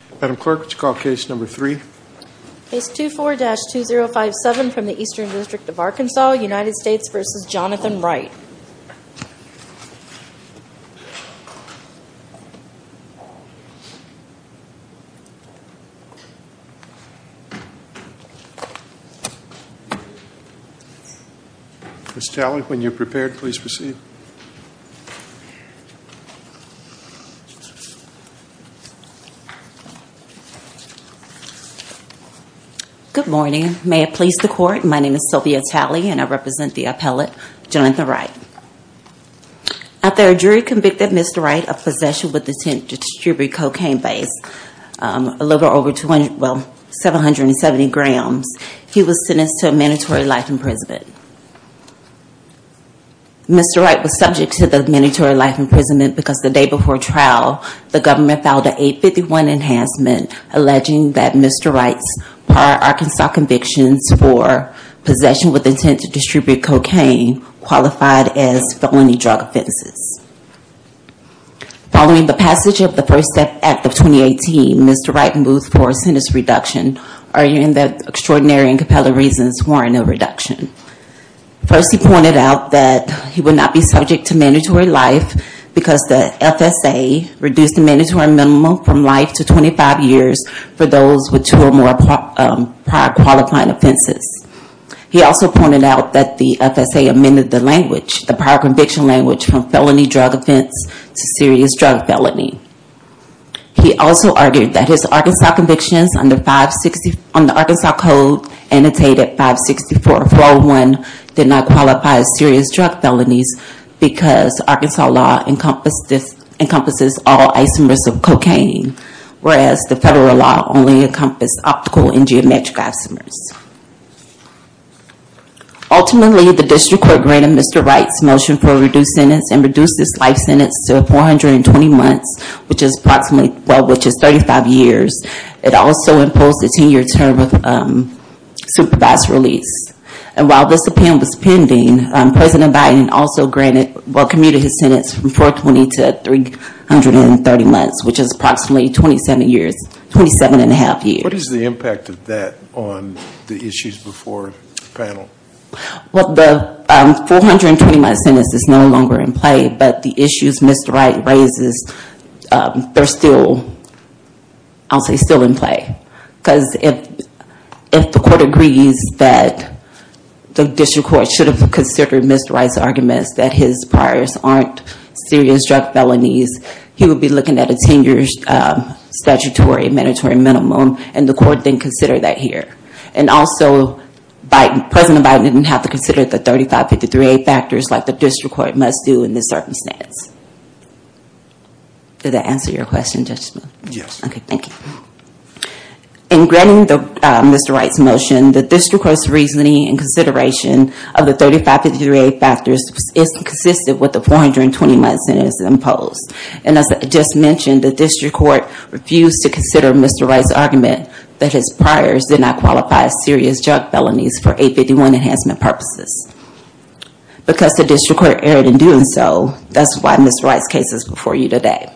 Ms. Talley, when you are prepared, please proceed. Good morning. May it please the court, my name is Sylvia Talley and I represent the appellate Jonathan Wright. After a jury convicted Mr. Wright of possession with intent to distribute cocaine based, a little over 270 grams, he was sentenced to a mandatory life in prison. Mr. Wright was subject to the mandatory life imprisonment because the day before trial the government filed a 851 enhancement alleging that Mr. Wright's prior Arkansas convictions for possession with intent to distribute cocaine qualified as felony drug offenses. Following the passage of the First Act of 2018, Mr. Wright moved for a sentence reduction, arguing that extraordinary and compelling reasons warranted a reduction. First, he pointed out that he would not be subject to mandatory life because the FSA reduced the mandatory minimum from life to 25 years for those with two or more prior qualifying offenses. He also pointed out that the FSA amended the language, the prior conviction language, from felony drug offense to serious drug felony. He also argued that his Arkansas convictions under the Arkansas Code, annotated 564-401, did not qualify as serious drug felonies because Arkansas law encompasses all isomers of cocaine, whereas the federal law only encompasses optical and geometric isomers. Ultimately, the district court granted Mr. Wright's motion for a reduced sentence and reduced his life sentence to 420 months, which is approximately 35 years. It also imposed a 10-year term of supervised release. While this appeal was pending, President Biden also commuted his sentence from 420 to 330 months, which is approximately 27 and a half years. What is the impact of that on the issues before the panel? Well, the 420-month sentence is no longer in play, but the issues Mr. Wright raises are still, I'll say, still in play. If the court agrees that the district court should have considered Mr. Wright's arguments that his priors aren't serious drug felonies, he would be looking at a 10-year statutory mandatory minimum, and the court didn't consider that here. Also, President Biden didn't have to consider the 3553A factors like the district court must do in this circumstance. Did that answer your question, Judge Smith? Yes. Okay, thank you. In granting Mr. Wright's motion, the district court's reasoning and consideration of the 3553A factors is consistent with the 420-month sentence imposed. As I just mentioned, the district court refused to consider Mr. Wright's argument that his priors did not qualify as serious drug felonies for 851 enhancement purposes. Because the district court erred in doing so, that's why Mr. Wright's case is before you today.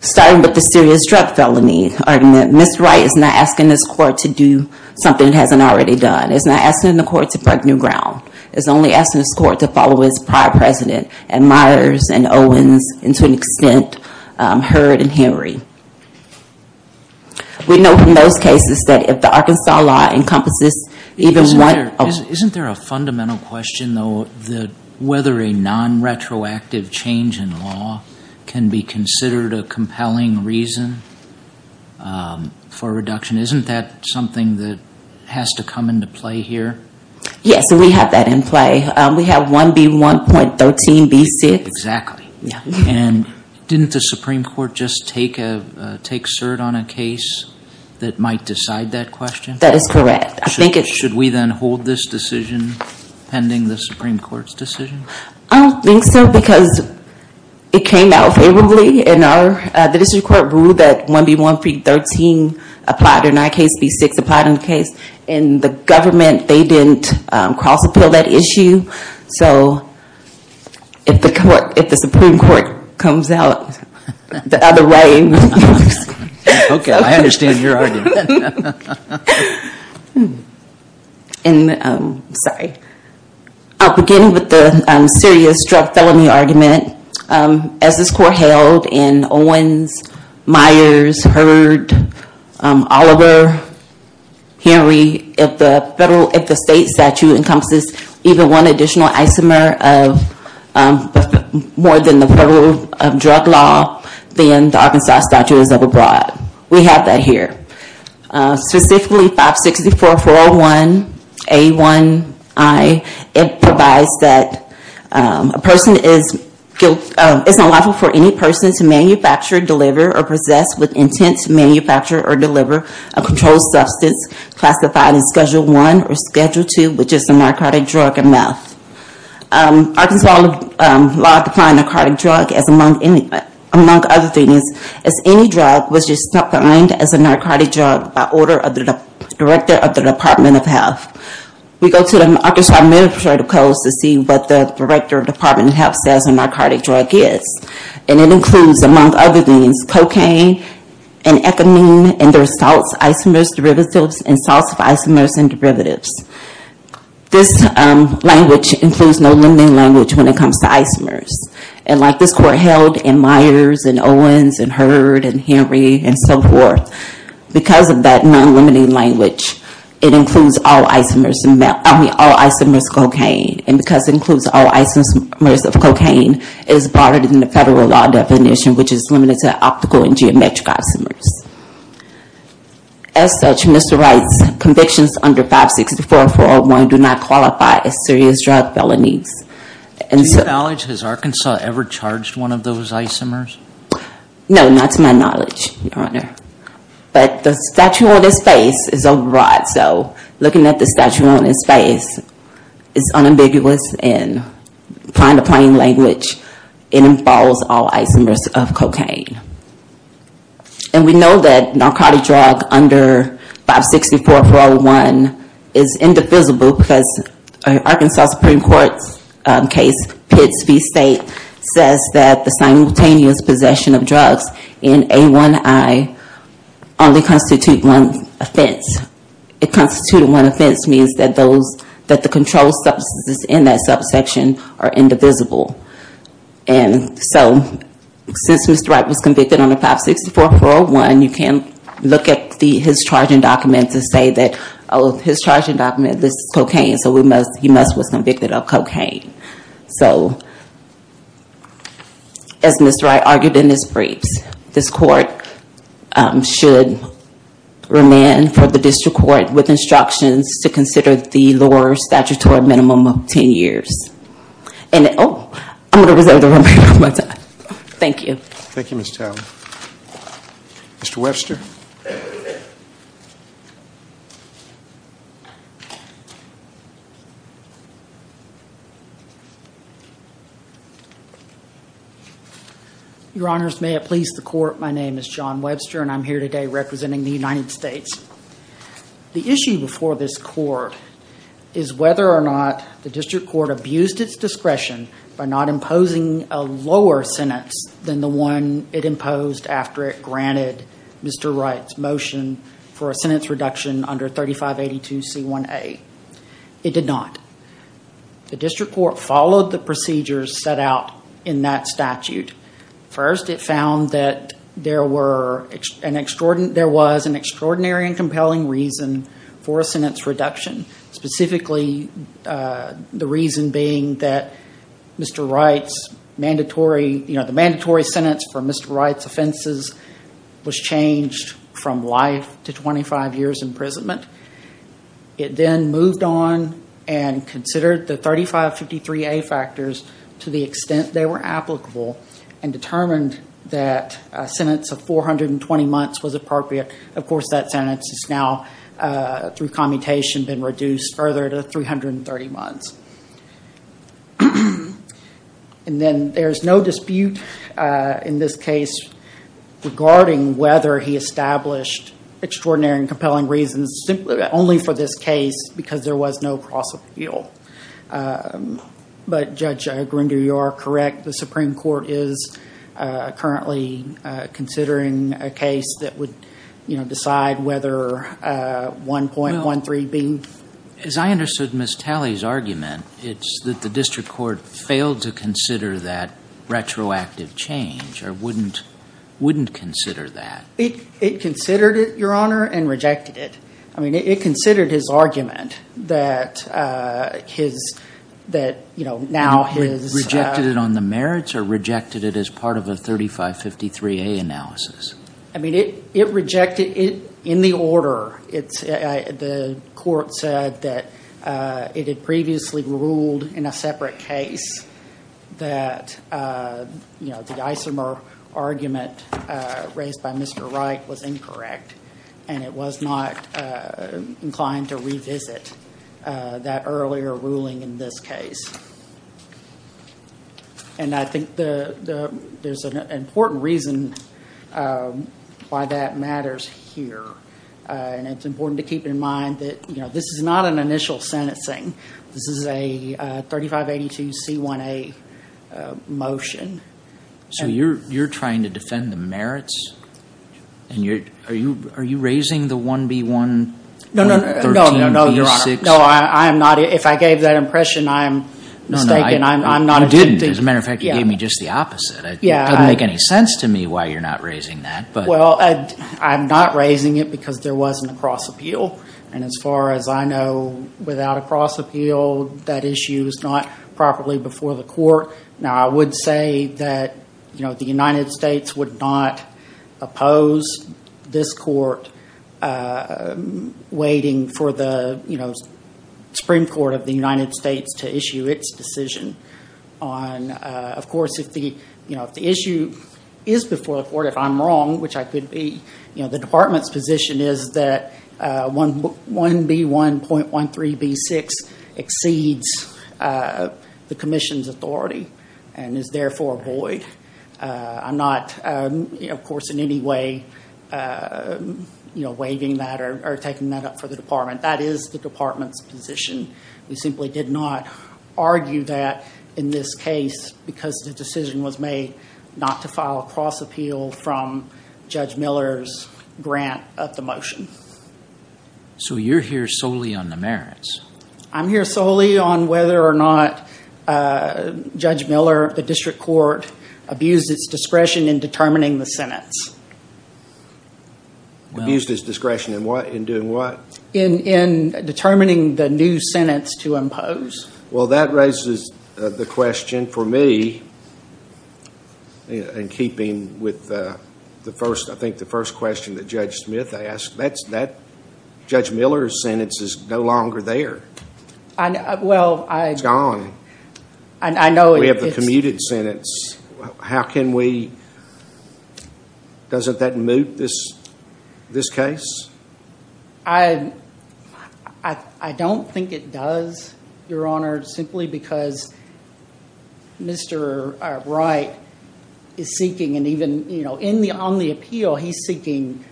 Starting with the serious drug felony argument, Mr. Wright is not asking this court to do something it hasn't already done. It's not asking the court to break new ground. It's only asking this court to follow its prior president and Myers and Owens, and to an extent, Heard and Henry. We know from those cases that if the Arkansas law encompasses even Isn't there a fundamental question, though, that whether a non-retroactive change in law can be considered a compelling reason for reduction? Isn't that something that has to come into play here? Yes, we have that in play. We have 1B1.13B6. Exactly. And didn't the Supreme Court just take cert on a case that might decide that question? That is correct. Should we then hold this decision pending the Supreme Court's decision? I don't think so because it came out favorably, and the district court ruled that 1B1.13 applied in our case, B6 applied in the case. In the government, they didn't cross-appeal that issue. So if the Supreme Court comes out the other way... Okay, I understand your argument. I'm sorry. Beginning with the serious drug felony argument, as this court held in Owens, Myers, Heard, Oliver, Henry, if the state statute encompasses even one additional isomer more than the federal drug law, then the Arkansas statute is overbroad. We have that here. Specifically, 564.401A1I, it provides that a person is not liable for any person to manufacture, deliver, or possess with intent to manufacture or deliver a controlled substance classified as Schedule I or Schedule II, which is a narcotic drug or meth. Arkansas law defined a narcotic drug as, among other things, as any drug which is defined as a narcotic drug by order of the Director of the Department of Health. We go to the Arkansas Administrative Codes to see what the Director of the Department of Health says a narcotic drug is, and it includes, among other things, cocaine and ecamine, and there's salts, isomers, derivatives, and salts of isomers and derivatives. This language includes no limiting language when it comes to isomers. And like this court held in Myers and Owens and Hurd and Henry and so forth, because of that non-limiting language, it includes all isomers of cocaine. And because it includes all isomers of cocaine, it is broader than the federal law definition, which is limited to optical and geometric isomers. As such, Mr. Wright's convictions under 564.401 do not qualify as serious drug felonies. To your knowledge, has Arkansas ever charged one of those isomers? No, not to my knowledge, Your Honor. But the statue on his face is a rod, so looking at the statue on his face is unambiguous and kind of plain language, it involves all isomers of cocaine. And we know that narcotic drug under 564.401 is indefensible because Arkansas Supreme Court's case, Pitts v. State, says that the simultaneous possession of drugs in A1I only constitute one offense. It constitutes one offense means that the controlled substances in that subsection are indivisible. And so, since Mr. Wright was convicted under 564.401, you can look at his charging document to say that, oh, his charging document lists cocaine, so he must have been convicted of cocaine. So, as Mr. Wright argued in his briefs, this court should remand for the district court with instructions to consider the lower statutory minimum of ten years. And, oh, I'm going to reserve the remainder of my time. Thank you. Mr. Webster. Your Honors, may it please the Court, my name is John Webster and I'm here today representing the United States. The issue before this court is whether or not the district court abused its discretion by not imposing a lower sentence than the one it imposed after it granted Mr. Wright's motion for a sentence reduction under 3582C1A. It did not. The district court followed the procedures set out in that statute. First, it found that there was an extraordinary and compelling reason for a sentence reduction, specifically the reason being that Mr. Wright's mandatory, you know, the mandatory sentence for Mr. Wright's offenses was changed from life to 25 years imprisonment. It then moved on and considered the 3553A factors to the extent they were applicable and determined that a sentence of 420 months was appropriate. Of course, that sentence is now through commutation been reduced further to 330 months. And then there's no dispute in this case regarding whether he established extraordinary and compelling reasons only for this case because there was no cross appeal. But Judge Grinder, you are correct. The Supreme Court is currently considering a case that would, you know, decide whether 1.13B. As I understood Ms. Talley's argument, it's that the district court failed to consider that retroactive change or wouldn't consider that. It considered it, Your Honor, and rejected it. I mean, it considered his argument that, you know, now his... It rejected it on the merits or rejected it as part of a 3553A analysis? I mean, it rejected it in the order. The court said that it had previously ruled in a separate case that, you know, the isomer argument raised by Mr. Wright was incorrect and it was not inclined to revisit that earlier ruling in this case. And I think there's an important reason why that matters here. And it's important to keep in mind that, you know, this is not an initial sentencing. This is a 3582C1A motion. So you're trying to defend the merits? And are you raising the 1.B. 1.13B.6? No, I'm not. If I gave that impression, I'm mistaken. I'm not... You didn't. As a matter of fact, you gave me just the opposite. It doesn't make any sense to me why you're not raising that. Well, I'm not raising it because there wasn't a cross appeal. And as far as I know, without a cross appeal, that issue is not properly before the court. Now, I would say that, you know, the United States would not oppose this court waiting for the, you know, Supreme Court of the United States to issue its decision on... Of course, if the issue is before the court, if I'm wrong, which I could be, you know, the Department's position is that 1.B. 1.13B.6 exceeds the Commission's authority and is therefore void. I'm not, of course, in any way you know, waiving that or taking that up for the Department. That is the Department's position. We simply did not argue that in this case because the decision was made not to file a cross appeal from Judge Miller's grant of the motion. So you're here solely on the merits? I'm here solely on whether or not Judge Miller, the district court, abused its discretion in determining the sentence. Abused its discretion in what? In doing what? In determining the new sentence to impose. Well, that raises the question for me in keeping with the first, I think, the first question that Judge Smith asked. Judge Miller's sentence is no longer there. Well, I... It's gone. We have the commuted sentence. How can we... Doesn't that moot this case? I don't think it does, Your Honor, simply because Mr. Wright is seeking, and even on the appeal, he's seeking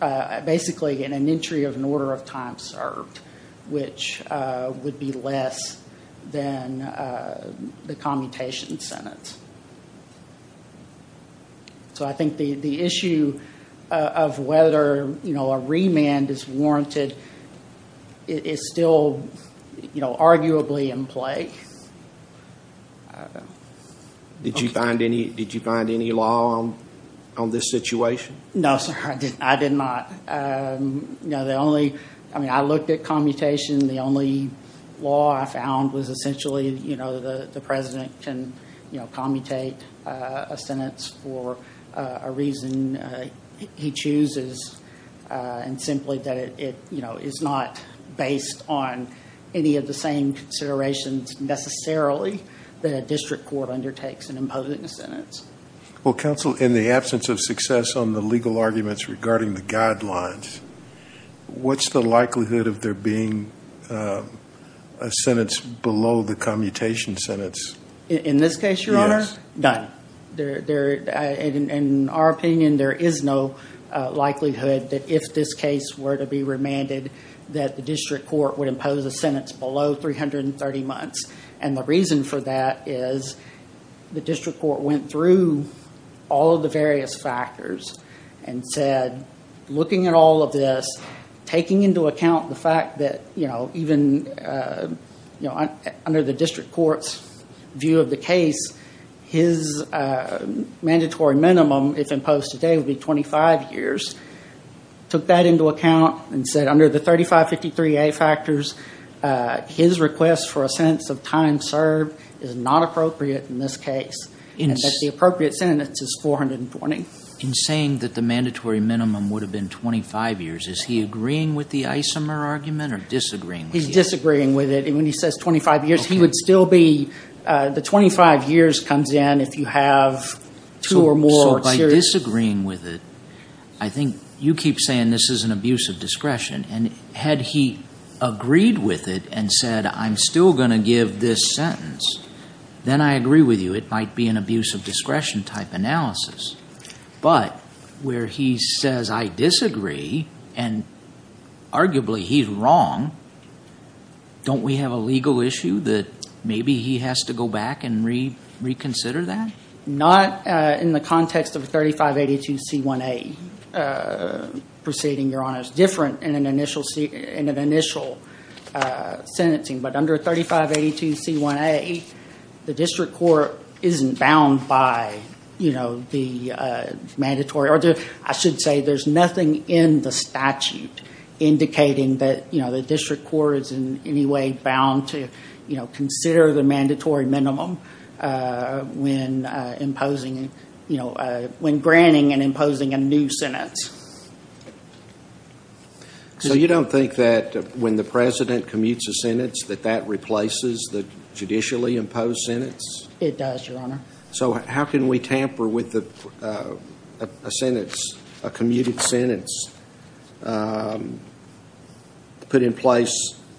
basically an entry of an order of time served, which would be less than the commutation sentence. So I think the issue of whether a remand is warranted is still arguably in play. Did you find any law on this situation? No, sir. I did not. I looked at commutation. The only law I found was essentially the president can commutate a sentence for a reason he chooses and simply that it is not based on any of the same considerations necessarily that a district court undertakes in imposing a sentence. Well, counsel, in the absence of success on the legal arguments regarding the guidelines, what's the likelihood of there being a sentence below the commutation sentence? In this case, Your Honor? Yes. None. In our opinion, there is no likelihood that if this case were to be remanded, that the district court would impose a sentence below 330 months. And the reason for that is the district court went through all of the various factors and said, looking at all of this, taking into account the fact that even under the district court's view of the case, his mandatory minimum, if imposed today, would be 25 years. Took that into account and said under the 3553A factors, his request for a sentence of time served is not appropriate in this case. And that the appropriate sentence is 420. In saying that the mandatory minimum would have been 25 years, is he agreeing with the isomer argument or disagreeing with it? He's disagreeing with it. When he says 25 years, he would still be, the 25 years comes in if you have two or more serious... So by disagreeing with it, I think you keep saying this is an abuse of discretion. And had he agreed with it and said, I'm still going to give this sentence, then I agree with you. It might be an abuse of discretion type analysis. But where he says I disagree, and arguably he's wrong, don't we have a legal issue that maybe he has to go back and reconsider that? Not in the context of 3582C1A proceeding, Your Honor. It's different in an initial sentencing. But under 3582C1A, the district court isn't bound by the mandatory... I should say there's nothing in the statute indicating that the district court is in any way bound to consider the mandatory minimum when granting and imposing a new sentence. So you don't think that when the president commutes a sentence, that that replaces the judicially imposed sentence? It does, Your Honor. So how can we tamper with a sentence, a commuted sentence put in place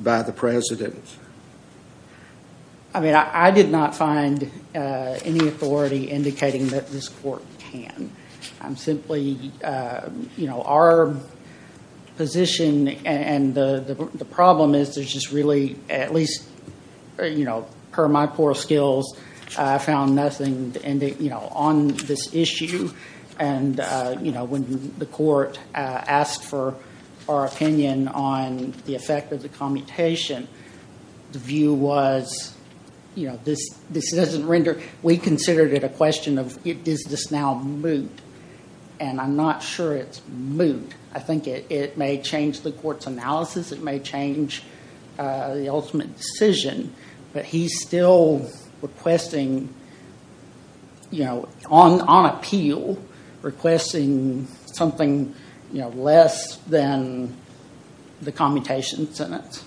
by the president? I mean, I did not find any authority indicating that this court can. I'm simply... Our position and the problem is there's just really, at least per my poor skills, I found nothing on this issue. And when the court asked for our opinion on the effect of the commutation, the view was this doesn't render... We considered it a question of, is this now moot? And I'm not sure it's moot. I think it may change the court's analysis. It may change the ultimate decision. But he's still requesting on appeal, requesting something less than the commutation sentence.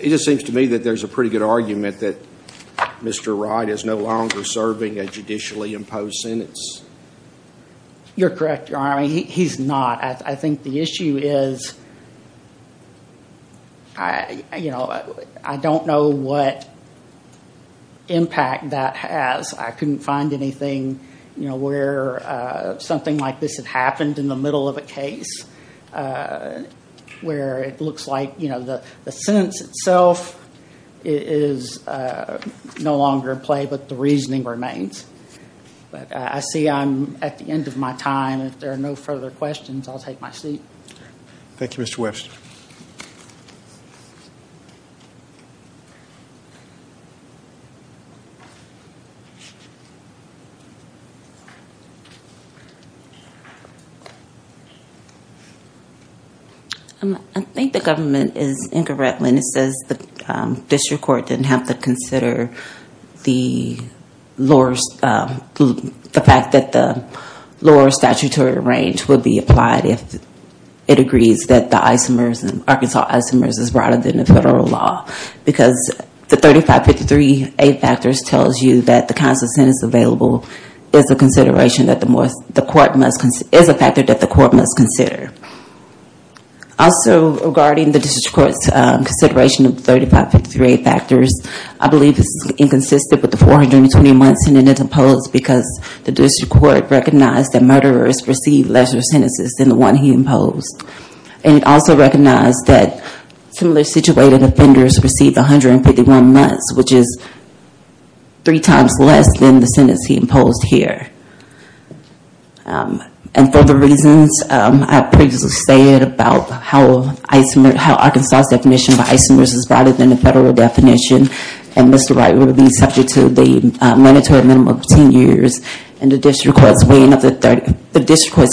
It just seems to me that there's a pretty good argument that Mr. Wright is no longer serving a judicially imposed sentence. You're correct, Your Honor. He's not. I think the issue is I don't know what impact that has. I couldn't find anything where something like this had happened in the middle of a case where it looks like the sentence itself is no longer in play, but the reasoning remains. I see I'm at the end of my time. If there are no further questions, I'll take my seat. Thank you, Mr. Webster. I think the government is incorrect when it says the district court didn't have to consider the fact that the lower statutory range would be applied if it agrees that the Arkansas isomers is broader than the federal law. Because the 3553A factors tells you that the kinds of sentences available is a factor that the court must consider. Also, regarding the district court's consideration of the 3553A factors, I believe this is consistent with the 420 months in an imposed because the district court recognized that murderers received lesser sentences than the one he imposed. And it also recognized that similar situated offenders received 151 months, which is three times less than the sentence he imposed here. And for the reasons I previously stated about how Arkansas's definition of isomers is broader than the federal definition, and Mr. Wright would be subject to the mandatory minimum of 10 years. And the district court's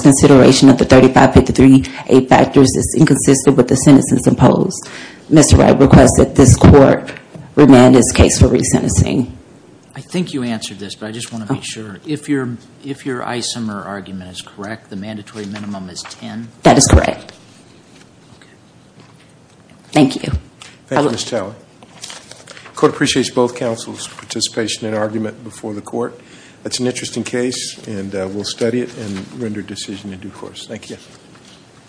consideration of the 3553A factors is inconsistent with the sentences imposed. Mr. Wright requests that this court remand his case for resentencing. I think you answered this, but I just want to make sure. If your isomer argument is correct, the mandatory minimum is 10? That is correct. Thank you. Thank you, Ms. Talley. The court appreciates both counsel's participation and argument before the court. It's an interesting case, and we'll study it and render a decision in due course. Thank you.